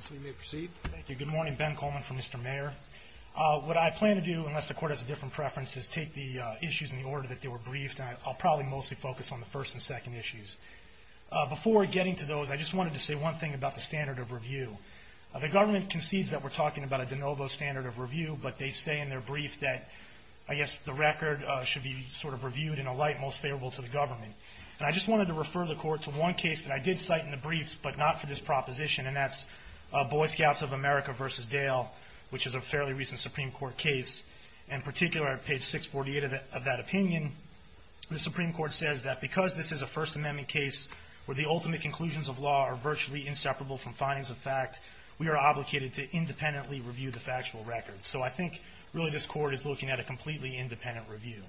Thank you. Good morning. Ben Coleman from Mr. Mayer. What I plan to do, unless the court has a different preference, is take the issues in the order that they were briefed. I'll probably mostly focus on the first and second issues. Before getting to those, I just wanted to say one thing about the standard of review. The government concedes that we're talking about a de novo standard of review, but they say in their brief that, I guess, the record should be sort of reviewed in a light most favorable to the government. And I just wanted to refer the court to one case that I did cite in the briefs, but not for this proposition, and that's Boy Scouts of America v. Dale, which is a fairly recent Supreme Court case. In particular, at page 648 of that opinion, the Supreme Court says that because this is a First Amendment case where the ultimate conclusions of law are virtually inseparable from findings of fact, we are obligated to independently review the factual records. So I think, really, this court is looking at a completely independent review.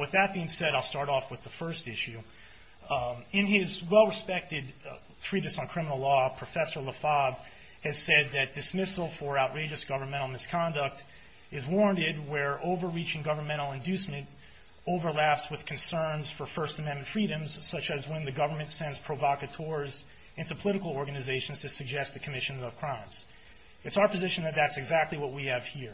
With that being said, I'll start off with the first issue. In his well-respected treatise on criminal law, Professor LaFave has said that dismissal for outrageous governmental misconduct is warranted where overreaching governmental inducement overlaps with concerns for First Amendment freedoms, such as when the government sends provocateurs into political organizations to suggest the commission of crimes. It's our position that that's exactly what we have here.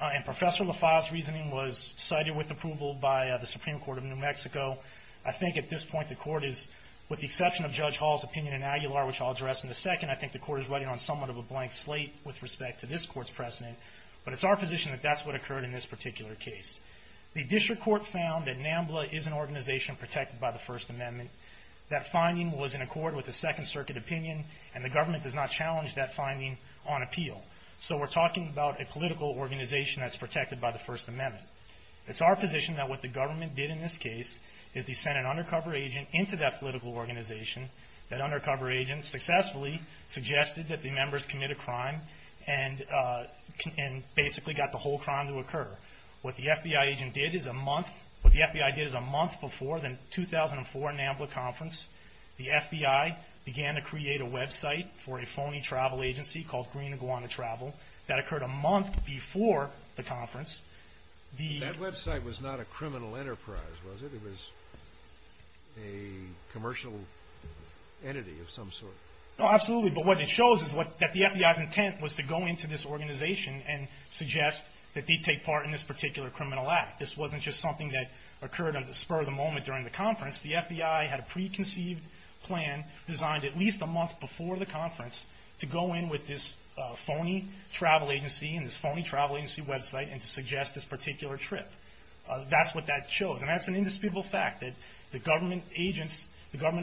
And Professor LaFave's reasoning was cited with approval by the Supreme Court of New Mexico. I think, at this point, the court is, with the exception of Judge Hall's opinion in Aguilar, which I'll address in a second, I think the court is riding on somewhat of a blank slate with respect to this court's precedent, but it's our position that that's what occurred in this particular case. The district court found that NAMBLA is an organization protected by the First Amendment. That finding was in accord with the Second Circuit opinion, and the government does not challenge that finding on appeal. So we're talking about a political organization that's protected by the First Amendment. It's our position that what the government did in this case is they sent an undercover agent into that political organization. That undercover agent successfully suggested that the members commit a crime and basically got the whole crime to occur. What the FBI agent did is a month, what the FBI did is a month before the 2004 NAMBLA conference, the FBI began to create a website for a phony travel agency called Green Iguana Travel. That occurred a month before the conference. That website was not a criminal enterprise, was it? It was a commercial entity of some sort? Absolutely, but what it shows is that the FBI's intent was to go into this organization and suggest that they take part in this particular criminal act. This wasn't just something that occurred on the spur of the moment during the conference. The FBI had a preconceived plan designed at least a month before the conference to go in with this phony travel agency and this phony travel agency website and to suggest this particular trip. That's what that shows and that's an indisputable fact that the government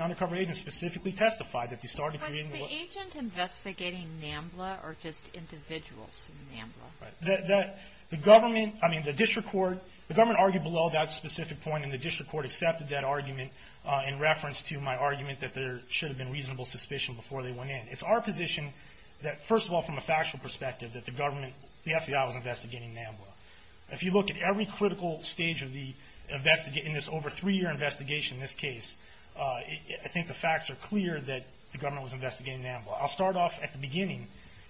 undercover agents specifically testified that they started creating... Was the agent investigating NAMBLA or just individuals in NAMBLA? The government argued below that specific point and the district court accepted that argument in reference to my argument that there should have been reasonable suspicion before they went in. It's our position that first of all from a factual perspective that the FBI was investigating NAMBLA. If you look at every critical stage in this over three year investigation in this case, I think the facts are clear that the government was investigating NAMBLA. I'll start off at the beginning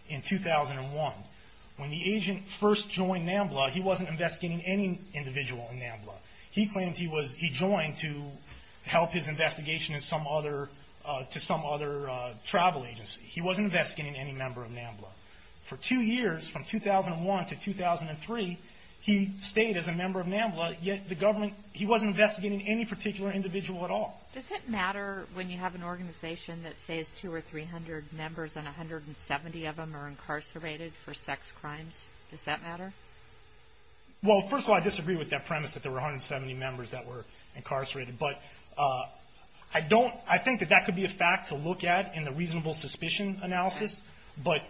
in 2001 when the agent first joined NAMBLA he wasn't investigating any individual in NAMBLA. He claimed he joined to help his investigation to some other travel agency. He wasn't investigating any member of NAMBLA. For two years from 2001 to 2003 he stayed as a member of NAMBLA yet he wasn't investigating any particular individual at all. Does it matter when you have an organization that says two or three hundred members and 170 of them are incarcerated for sex crimes? Does that matter? Well first of all I disagree with that premise that there were 170 members that were incarcerated but I think that could be a fact to look at in the reasonable suspicion analysis. But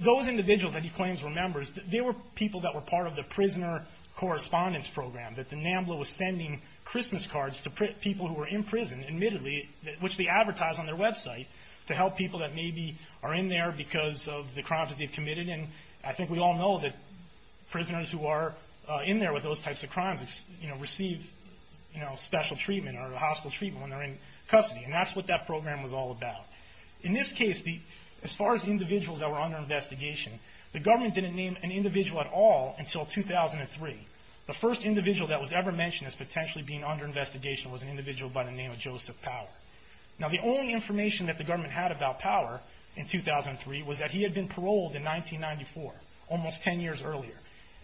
those individuals that he claims were members they were people that were part of the prisoner correspondence program that the NAMBLA was sending Christmas cards to people who were in prison admittedly which they advertise on their website to help people that maybe are in there because of the crimes that they've committed. And I think we all know that prisoners who are in there with those types of crimes receive special treatment or hostile treatment when they're in custody and that's what that program was all about. In this case as far as individuals that were under investigation the government didn't name an individual at all until 2003. The first individual that was ever mentioned as potentially being under investigation was an individual by the name of Joseph Power. Now the only information that the government had about Power in 2003 was that he had been paroled in 1994 almost ten years earlier.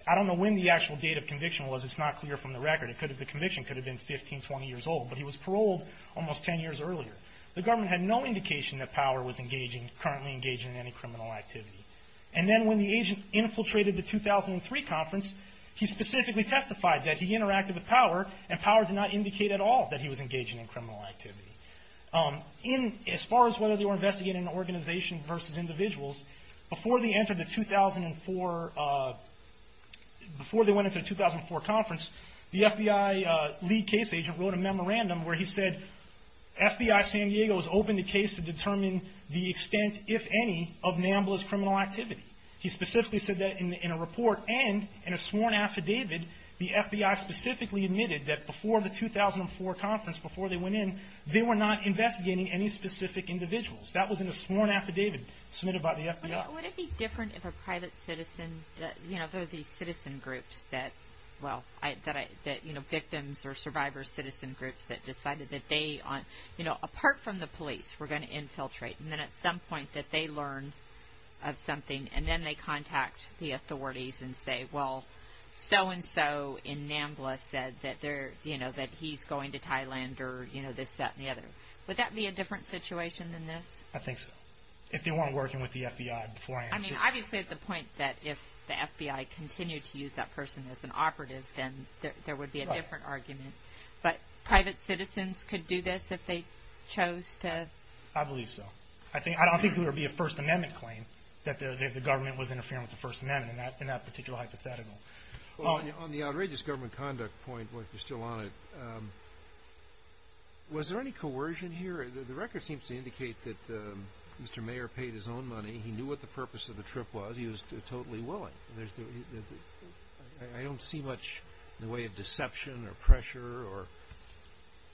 I don't know when the actual date of conviction was it's not clear from the record. The conviction could have been 15, 20 years old but he was paroled almost ten years earlier. The government had no indication that Power was engaging currently engaging in any criminal activity. And then when the agent infiltrated the 2003 conference he specifically testified that he interacted with Power and Power did not indicate at all that he was engaging in criminal activity. As far as whether they were investigating an organization versus individuals, before they went into the 2004 conference the FBI lead case agent wrote a memorandum where he said, FBI San Diego has opened the case to determine the extent if any of Nambla's criminal activity. He specifically said that in a report and in a sworn affidavit the FBI specifically admitted that before the 2004 conference before they went in they were not investigating any specific individuals. That was in a sworn affidavit submitted by the FBI. Would it be different if a private citizen, you know there are these citizen groups that, well, that you know victims or survivor citizen groups that decided that they, you know apart from the police were going to infiltrate and then at some point that they learn of something and then they contact the authorities and say well so and so in Nambla said that they're, you know that he's going to Thailand or you know this that and the other. Would that be a different situation than this? I think so. If they weren't working with the FBI beforehand. I mean obviously at the point that if the FBI continued to use that person as an operative then there would be a different argument. But private citizens could do this if they chose to? I believe so. I don't think there would be a First Amendment claim that the government was interfering with the First Amendment in that particular hypothetical. On the outrageous government conduct point, if you're still on it, was there any coercion here? The record seems to indicate that Mr. Mayer paid his own money. He knew what the purpose of the trip was. He was totally willing. I don't see much in the way of deception or pressure or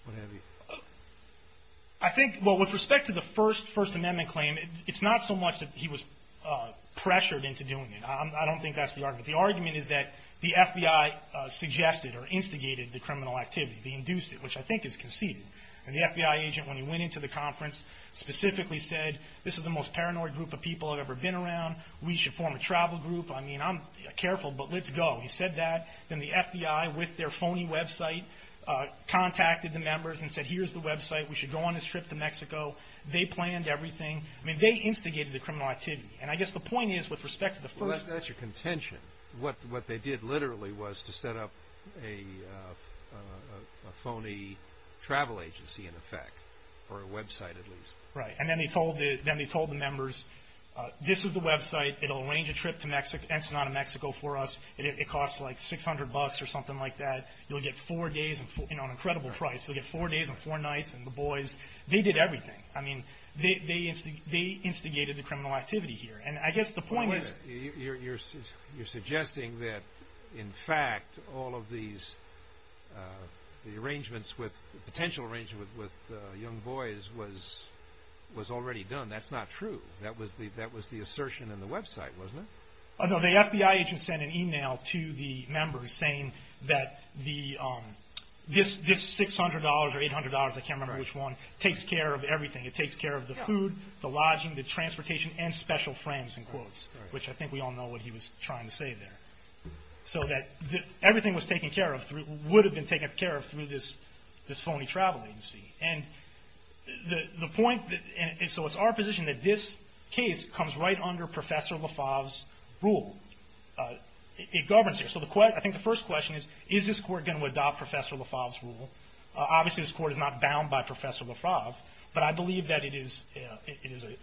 what have you. I think, well with respect to the First Amendment claim, it's not so much that he was pressured into doing it. I don't think that's the argument. The argument is that the FBI suggested or instigated the criminal activity. They induced it which I think is conceded. And the FBI agent when he went into the conference specifically said this is the most paranoid group of people I've ever been around. We should form a travel group. I mean I'm careful but let's go. He said that. Then the FBI with their phony website contacted the members and said here's the website. We should go on this trip to Mexico. They planned everything. I mean they instigated the criminal activity. And I guess the point is with respect to the first Well that's your contention. What they did literally was to set up a phony travel agency in effect or a website at least. Right. And then they told the members this is the website. It'll arrange a trip to Ensenada, Mexico for us. It costs like 600 bucks or something like that. You'll get four days and an incredible price. You'll get four days and four nights. And the boys, they did everything. I mean they instigated the criminal activity here. You're suggesting that in fact all of these arrangements with potential arrangements with young boys was already done. That's not true. That was the assertion in the website wasn't it? The FBI agent sent an email to the members saying that this $600 or $800, I can't remember which one, takes care of everything. It takes care of the food, the lodging, the transportation and special friends in quotes. Which I think we all know what he was trying to say there. So that everything was taken care of, would have been taken care of through this phony travel agency. And so it's our position that this case comes right under Professor LaFave's rule. It governs here. So I think the first question is, is this court going to adopt Professor LaFave's rule? Obviously this court is not bound by Professor LaFave, but I believe that it is a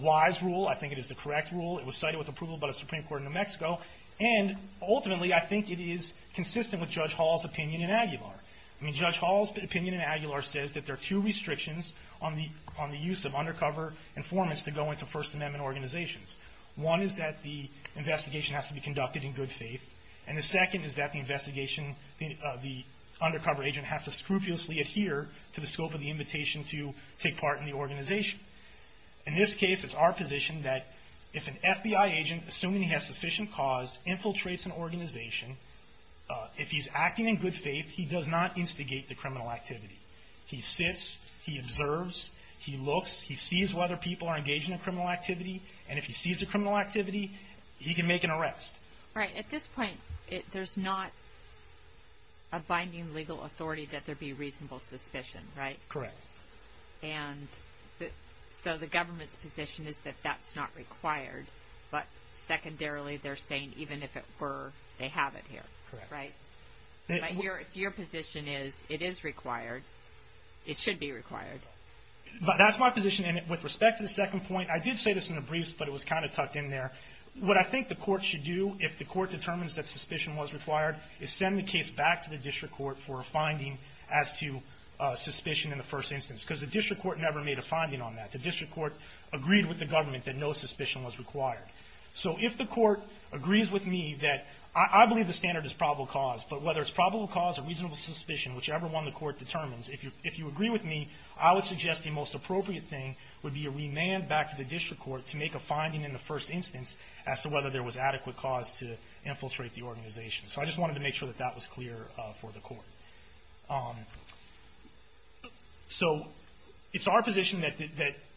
wise rule. I think it is the correct rule. It was cited with approval by the Supreme Court in New Mexico. And ultimately I think it is consistent with Judge Hall's opinion in Aguilar. I mean Judge Hall's opinion in Aguilar says that there are two restrictions on the use of undercover informants to go into First Amendment organizations. One is that the investigation has to be conducted in good faith. And the second is that the investigation, the undercover agent has to scrupulously adhere to the scope of the invitation to take part in the organization. In this case, it's our position that if an FBI agent, assuming he has sufficient cause, infiltrates an organization, if he's acting in good faith, he does not instigate the criminal activity. He sits. He observes. He looks. He sees whether people are engaged in a criminal activity. And if he sees a criminal activity, he can make an arrest. Right. At this point, there's not a binding legal authority that there be reasonable suspicion, right? Correct. And so the government's position is that that's not required. But secondarily, they're saying even if it were, they have it here, right? Correct. But your position is it is required. It should be required. That's my position. And with respect to the second point, I did say this in the briefs, but it was kind of tucked in there. What I think the court should do, if the court determines that suspicion was required, is send the case back to the district court for a finding as to suspicion in the first instance. Because the district court never made a finding on that. The district court agreed with the government that no suspicion was required. So if the court agrees with me that I believe the standard is probable cause. But whether it's probable cause or reasonable suspicion, whichever one the court determines, if you agree with me, I would suggest the most appropriate thing would be a remand back to the district court to make a finding in the first instance as to whether there was adequate cause to infiltrate the organization. So I just wanted to make sure that that was clear for the court. So it's our position that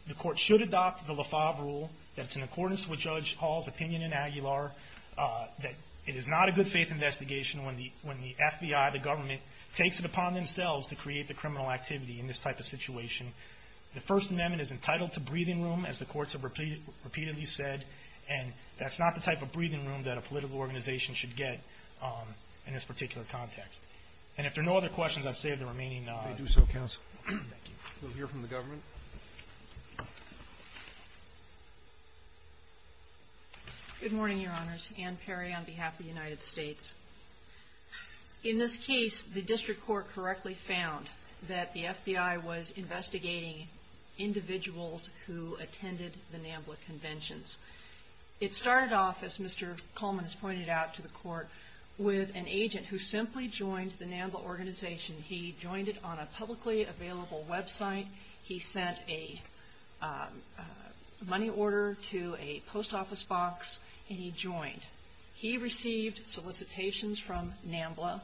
the court should adopt the LeFauvre rule, that it's in accordance with Judge Hall's opinion in Aguilar, that it is not a good faith investigation when the FBI, the government, takes it upon themselves to create the criminal activity in this type of situation. The First Amendment is entitled to breathing room, as the courts have repeatedly said. And that's not the type of breathing room that a political organization should get in this particular context. And if there are no other questions, I'll save the remaining time. I do so, counsel. Thank you. We'll hear from the government. Good morning, Your Honors. Ann Perry on behalf of the United States. In this case, the district court correctly found that the FBI was investigating individuals who attended the NAMBLA conventions. It started off, as Mr. Coleman has pointed out to the court, with an agent who simply joined the NAMBLA organization. He joined it on a publicly available website. He sent a money order to a post office box, and he joined. He received solicitations from NAMBLA.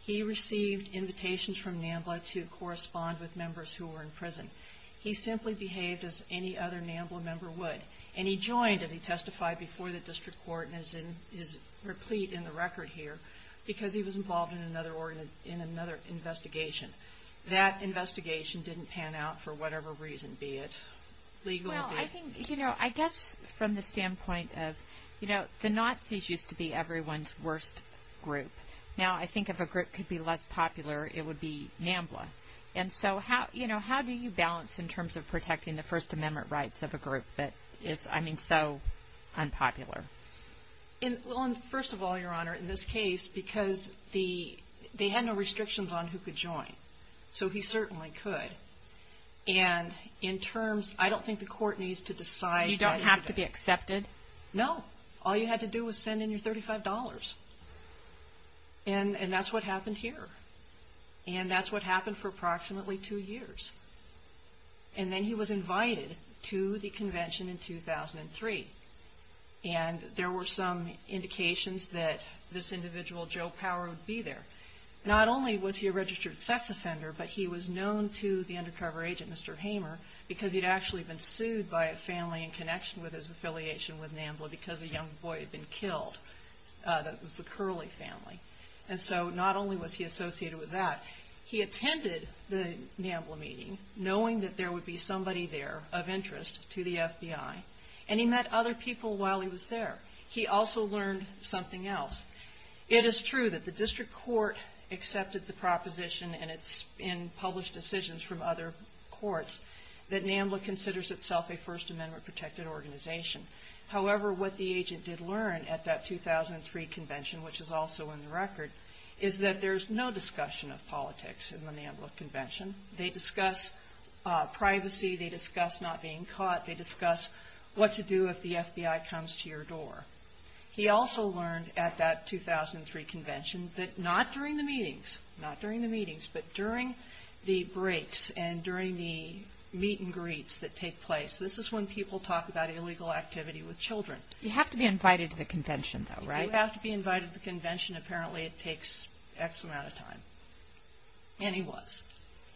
He received invitations from NAMBLA to correspond with members who were in prison. He simply behaved as any other NAMBLA member would. And he joined, as he testified before the district court, and is replete in the record here, because he was involved in another investigation. That investigation didn't pan out for whatever reason, be it legal, be it... Well, I think, you know, I guess from the standpoint of, you know, the Nazis used to be everyone's worst group. Now, I think if a group could be less popular, it would be NAMBLA. And so, you know, how do you balance in terms of protecting the First Amendment rights of a group that is, I mean, so unpopular? Well, first of all, Your Honor, in this case, because they had no restrictions on who could join. So he certainly could. And in terms, I don't think the court needs to decide... You don't have to be accepted? No. All you had to do was send in your $35. And that's what happened here. And that's what happened for approximately two years. And then he was invited to the convention in 2003. And there were some indications that this individual, Joe Power, would be there. Not only was he a registered sex offender, but he was known to the undercover agent, Mr. Hamer, because he'd actually been sued by a family in connection with his affiliation with NAMBLA because a young boy had been killed. It was the Curley family. And so not only was he associated with that, he attended the NAMBLA meeting, knowing that there would be somebody there of interest to the FBI. And he met other people while he was there. He also learned something else. It is true that the district court accepted the proposition, and it's in published decisions from other courts, that NAMBLA considers itself a First Amendment protected organization. However, what the agent did learn at that 2003 convention, which is also in the record, is that there's no discussion of politics in the NAMBLA convention. They discuss privacy. They discuss not being caught. They discuss what to do if the FBI comes to your door. He also learned at that 2003 convention that not during the meetings, not during the meetings, but during the breaks and during the meet and greets that take place, this is when people talk about illegal activity with children. You have to be invited to the convention, though, right? If you have to be invited to the convention, apparently it takes X amount of time. And he was.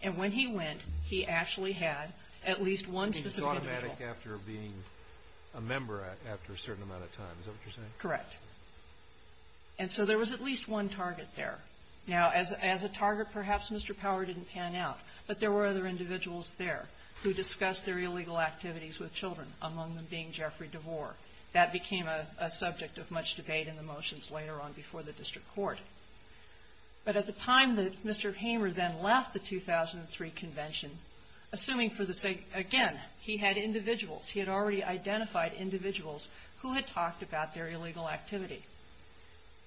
And when he went, he actually had at least one specific individual. He was automatic after being a member after a certain amount of time. Is that what you're saying? Correct. And so there was at least one target there. Now, as a target, perhaps Mr. Power didn't pan out, but there were other individuals there who discussed their illegal activities with children, among them being Jeffrey DeVore. That became a subject of much debate in the motions later on before the district court. But at the time that Mr. Hamer then left the 2003 convention, assuming for the sake, again, he had individuals, he had already identified individuals who had talked about their illegal activity.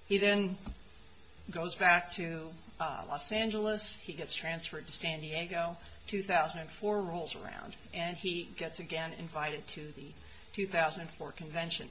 He then goes back to Los Angeles. He gets transferred to San Diego. 2004 rolls around, and he gets again invited to the 2004 convention.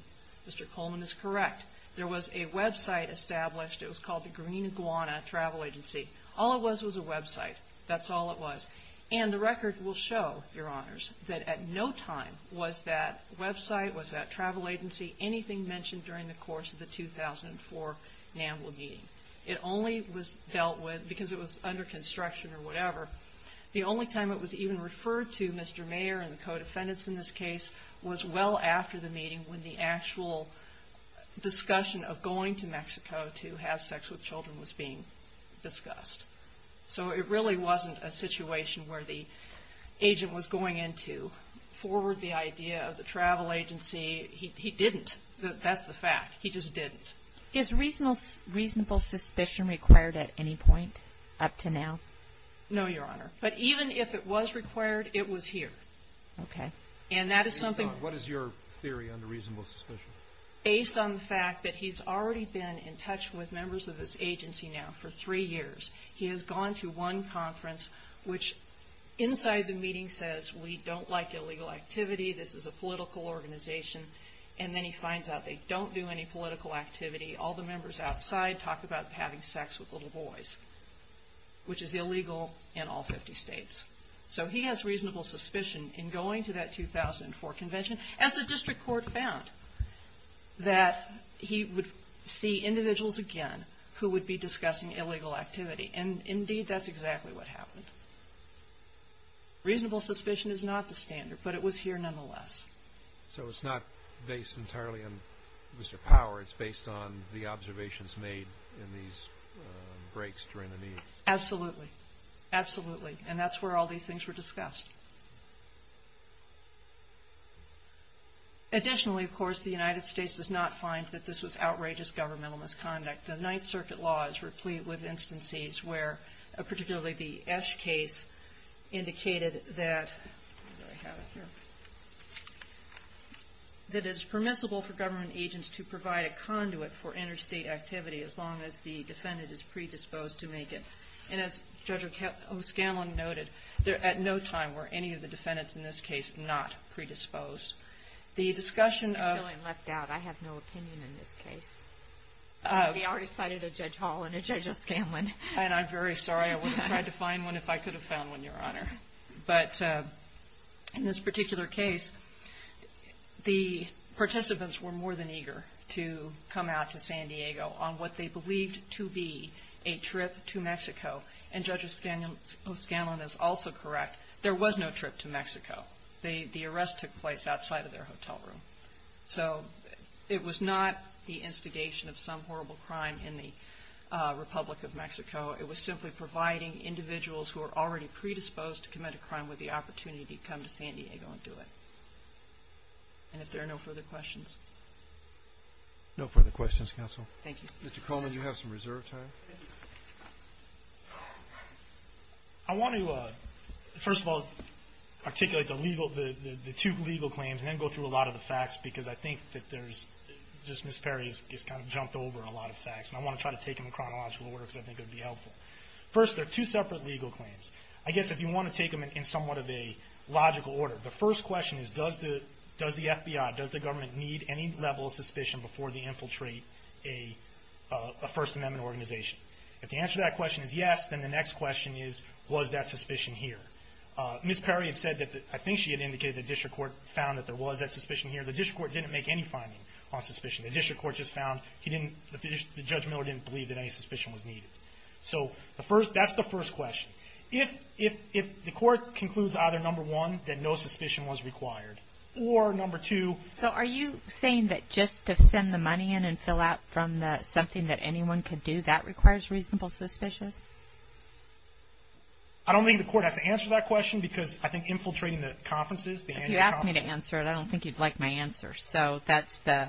Mr. Coleman is correct. There was a website established. It was called the Green Iguana Travel Agency. All it was was a website. That's all it was. And the record will show, Your Honors, that at no time was that website, was that travel agency, anything mentioned during the course of the 2004 NAMBLA meeting. It only was dealt with because it was under construction or whatever. The only time it was even referred to, Mr. Mayer and the co-defendants in this case, was well after the meeting when the actual discussion of going to Mexico to have sex with children was being discussed. So it really wasn't a situation where the agent was going in to forward the idea of the travel agency. He didn't. That's the fact. He just didn't. Is reasonable suspicion required at any point up to now? No, Your Honor. But even if it was required, it was here. Okay. And that is something. What is your theory on the reasonable suspicion? Based on the fact that he's already been in touch with members of this agency now for three years. He has gone to one conference, which inside the meeting says, we don't like illegal activity. This is a political organization. And then he finds out they don't do any political activity. All the members outside talk about having sex with little boys, which is illegal in all 50 states. So he has reasonable suspicion in going to that 2004 convention, as the district court found that he would see individuals again who would be discussing illegal activity. And, indeed, that's exactly what happened. Reasonable suspicion is not the standard, but it was here nonetheless. So it's not based entirely on Mr. Power. It's based on the observations made in these breaks during the meetings. Absolutely. Absolutely. And that's where all these things were discussed. Additionally, of course, the United States does not find that this was outrageous governmental misconduct. The Ninth Circuit law is replete with instances where, particularly the Esch case, indicated that it is permissible for government agents to provide a conduit for interstate activity as long as the defendant is predisposed to make it. And as Judge O'Scanlan noted, at no time were any of the defendants in this case not predisposed. The discussion of — I'm feeling left out. I have no opinion in this case. We already cited a Judge Hall and a Judge O'Scanlan. And I'm very sorry. I would have tried to find one if I could have found one, Your Honor. But in this particular case, the participants were more than eager to come out to San Diego on what they believed to be a trip to Mexico. And Judge O'Scanlan is also correct. There was no trip to Mexico. The arrest took place outside of their hotel room. So it was not the instigation of some horrible crime in the Republic of Mexico. It was simply providing individuals who are already predisposed to commit a crime with the opportunity to come to San Diego and do it. And if there are no further questions. No further questions, Counsel. Thank you. Mr. Coleman, you have some reserve time. I want to, first of all, articulate the two legal claims and then go through a lot of the facts because I think that there's, just Ms. Perry has kind of jumped over a lot of facts. And I want to try to take them in chronological order because I think it would be helpful. First, there are two separate legal claims. I guess if you want to take them in somewhat of a logical order, the first question is, does the FBI, does the government need any level of suspicion before they infiltrate a First Amendment organization? If the answer to that question is yes, then the next question is, was that suspicion here? Ms. Perry had said that, I think she had indicated that district court found that there was that suspicion here. The district court didn't make any finding on suspicion. The district court just found he didn't, Judge Miller didn't believe that any suspicion was needed. So that's the first question. If the court concludes either, number one, that no suspicion was required, or number two. So are you saying that just to send the money in and fill out from the something that anyone could do, that requires reasonable suspicion? I don't think the court has to answer that question because I think infiltrating the conferences, the annual conferences. You asked me to answer it. I don't think you'd like my answer. So that's the.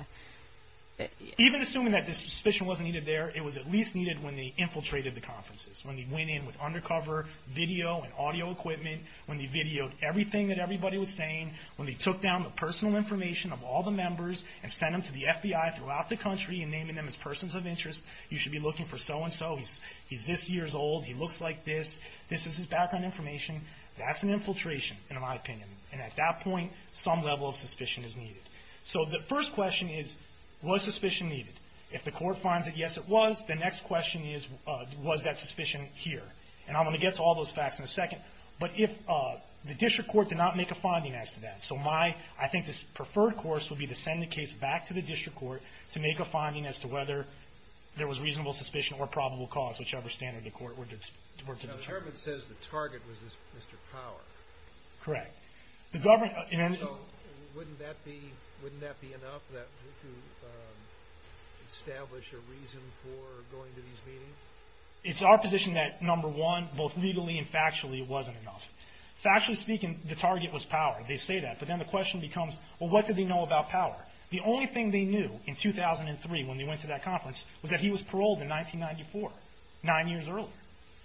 Even assuming that the suspicion wasn't needed there, it was at least needed when they infiltrated the conferences. When they went in with undercover video and audio equipment. When they videoed everything that everybody was saying. When they took down the personal information of all the members and sent them to the FBI throughout the country and naming them as persons of interest. You should be looking for so and so. He's this year's old. He looks like this. This is his background information. That's an infiltration, in my opinion. And at that point, some level of suspicion is needed. So the first question is, was suspicion needed? If the court finds that, yes, it was, the next question is, was that suspicion here? And I'm going to get to all those facts in a second. But if the district court did not make a finding as to that. So my, I think, preferred course would be to send the case back to the district court to make a finding as to whether there was reasonable suspicion or probable cause, whichever standard the court were to determine. Now the government says the target was Mr. Power. Correct. Wouldn't that be enough to establish a reason for going to these meetings? It's our position that, number one, both legally and factually, it wasn't enough. Factually speaking, the target was Power. They say that. But then the question becomes, well, what did they know about Power? The only thing they knew in 2003 when they went to that conference was that he was paroled in 1994, nine years earlier.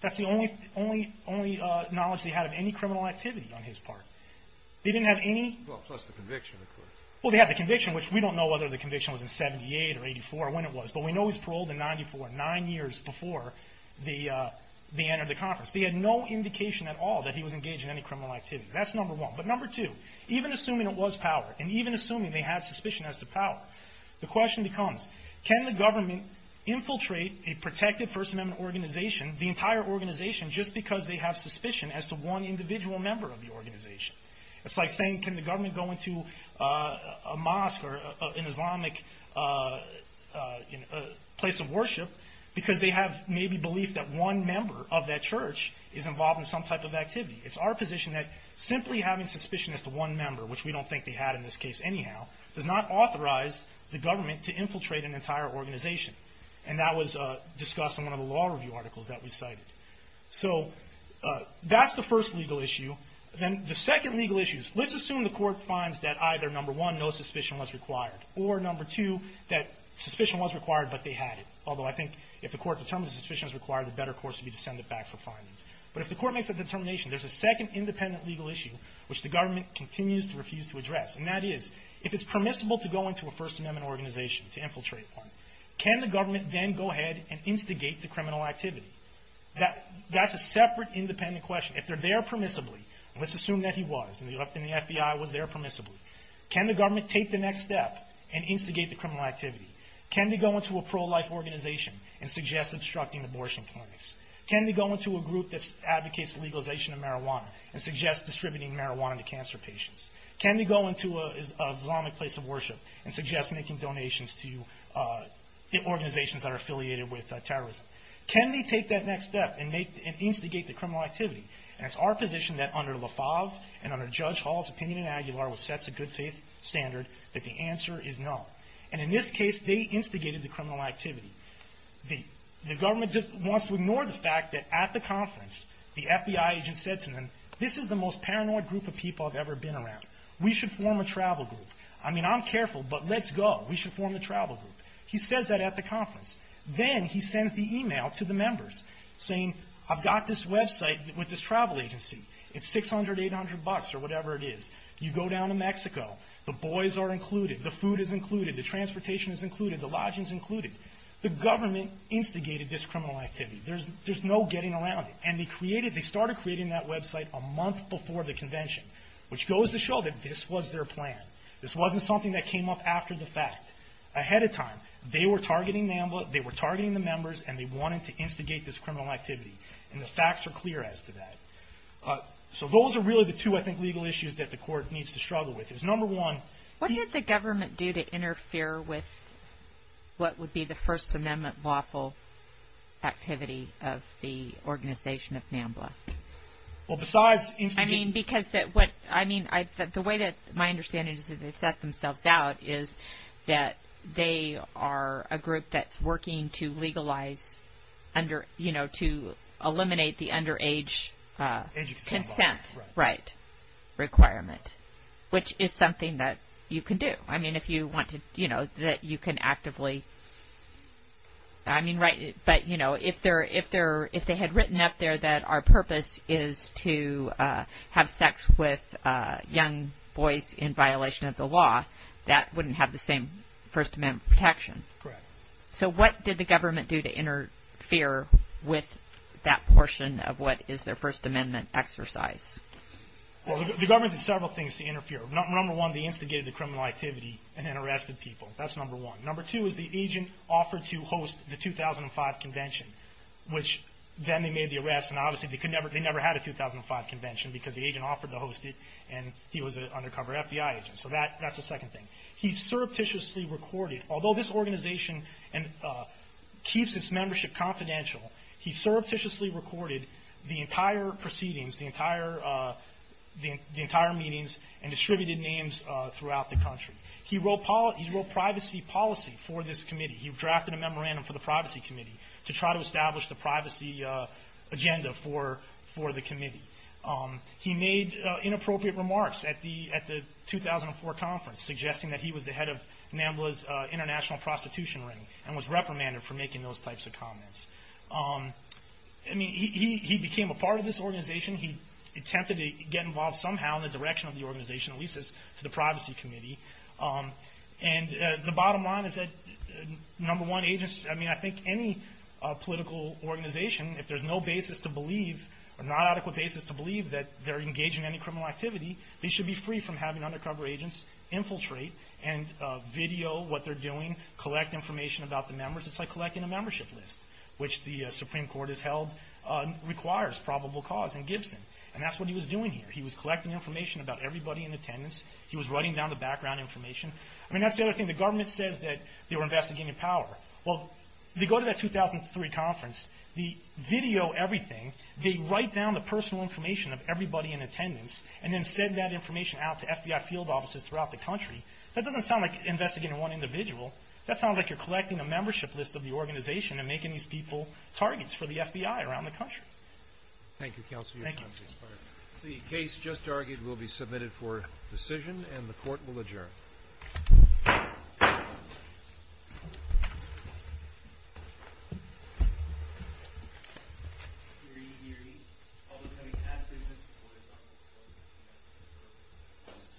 That's the only knowledge they had of any criminal activity on his part. They didn't have any. Well, plus the conviction, of course. Well, they had the conviction, which we don't know whether the conviction was in 78 or 84 or when it was. But we know he was paroled in 94, nine years before the end of the conference. They had no indication at all that he was engaged in any criminal activity. That's number one. But number two, even assuming it was Power, and even assuming they had suspicion as to Power, the question becomes, can the government infiltrate a protected First Amendment organization, the entire organization, just because they have suspicion as to one individual member of the organization? It's like saying, can the government go into a mosque or an Islamic place of worship because they have maybe belief that one member of that church is involved in some type of activity. It's our position that simply having suspicion as to one member, which we don't think they had in this case anyhow, does not authorize the government to infiltrate an entire organization. And that was discussed in one of the law review articles that we cited. So that's the first legal issue. Then the second legal issue is let's assume the court finds that either, number one, no suspicion was required, or, number two, that suspicion was required but they had it. Although I think if the court determines that suspicion is required, the better course would be to send it back for findings. But if the court makes that determination, there's a second independent legal issue, which the government continues to refuse to address. And that is, if it's permissible to go into a First Amendment organization to infiltrate one, can the government then go ahead and instigate the criminal activity? That's a separate independent question. If they're there permissibly, let's assume that he was and the FBI was there permissibly, can the government take the next step and instigate the criminal activity? Can they go into a pro-life organization and suggest obstructing abortion clinics? Can they go into a group that advocates legalization of marijuana and suggest distributing marijuana to cancer patients? Can they go into a Islamic place of worship and suggest making donations to organizations that are affiliated with terrorism? Can they take that next step and instigate the criminal activity? And it's our position that under Lefauve and under Judge Hall's opinion in Aguilar, which sets a good faith standard, that the answer is no. And in this case, they instigated the criminal activity. The government just wants to ignore the fact that at the conference, the FBI agent said to them, this is the most paranoid group of people I've ever been around. We should form a travel group. I mean, I'm careful, but let's go. We should form a travel group. He says that at the conference. Then he sends the e-mail to the members saying, I've got this website with this travel agency. It's 600, 800 bucks or whatever it is. You go down to Mexico. The boys are included. The food is included. The transportation is included. The lodging is included. The government instigated this criminal activity. There's no getting around it. And they created, they started creating that website a month before the convention, which goes to show that this was their plan. This wasn't something that came up after the fact. Ahead of time, they were targeting the members and they wanted to instigate this criminal activity. And the facts are clear as to that. So those are really the two, I think, legal issues that the Court needs to struggle with. What did the government do to interfere with what would be the First Amendment lawful activity of the organization of NAMBLA? Well, besides instigating. I mean, because the way that my understanding is that they set themselves out is that they are a group that's working to legalize, you know, to eliminate the underage consent requirement, which is something that you can do. I mean, if you want to, you know, that you can actively, I mean, right. But, you know, if they had written up there that our purpose is to have sex with young boys in violation of the law, that wouldn't have the same First Amendment protection. Correct. So what did the government do to interfere with that portion of what is their First Amendment exercise? Well, the government did several things to interfere. Number one, they instigated the criminal activity and then arrested people. That's number one. Number two is the agent offered to host the 2005 Convention, which then they made the arrest. And obviously, they could never – they never had a 2005 Convention because the agent offered to host it, and he was an undercover FBI agent. So that's the second thing. He surreptitiously recorded – although this organization keeps its membership confidential – he surreptitiously recorded the entire proceedings, the entire meetings, and distributed names throughout the country. He wrote privacy policy for this committee. He drafted a memorandum for the Privacy Committee to try to establish the privacy agenda for the committee. He made inappropriate remarks at the 2004 Conference, suggesting that he was the head of NAMBLA's international prostitution ring and was reprimanded for making those types of comments. I mean, he became a part of this organization. He attempted to get involved somehow in the direction of the organization, at least as to the Privacy Committee. And the bottom line is that, number one, agents – I mean, I think any political organization, if there's no basis to believe or not adequate basis to believe that they're engaging in any criminal activity, they should be free from having undercover agents infiltrate and video what they're doing, collect information about the members. It's like collecting a membership list, which the Supreme Court has held requires probable cause in Gibson. And that's what he was doing here. He was collecting information about everybody in attendance. He was writing down the background information. I mean, that's the other thing. The government says that they were investigating power. Well, they go to that 2003 Conference. They video everything. They write down the personal information of everybody in attendance and then send that information out to FBI field officers throughout the country. That doesn't sound like investigating one individual. That sounds like you're collecting a membership list of the organization and making these people targets for the FBI around the country. Thank you, Counsel. Thank you. The case just argued will be submitted for decision, and the Court will adjourn.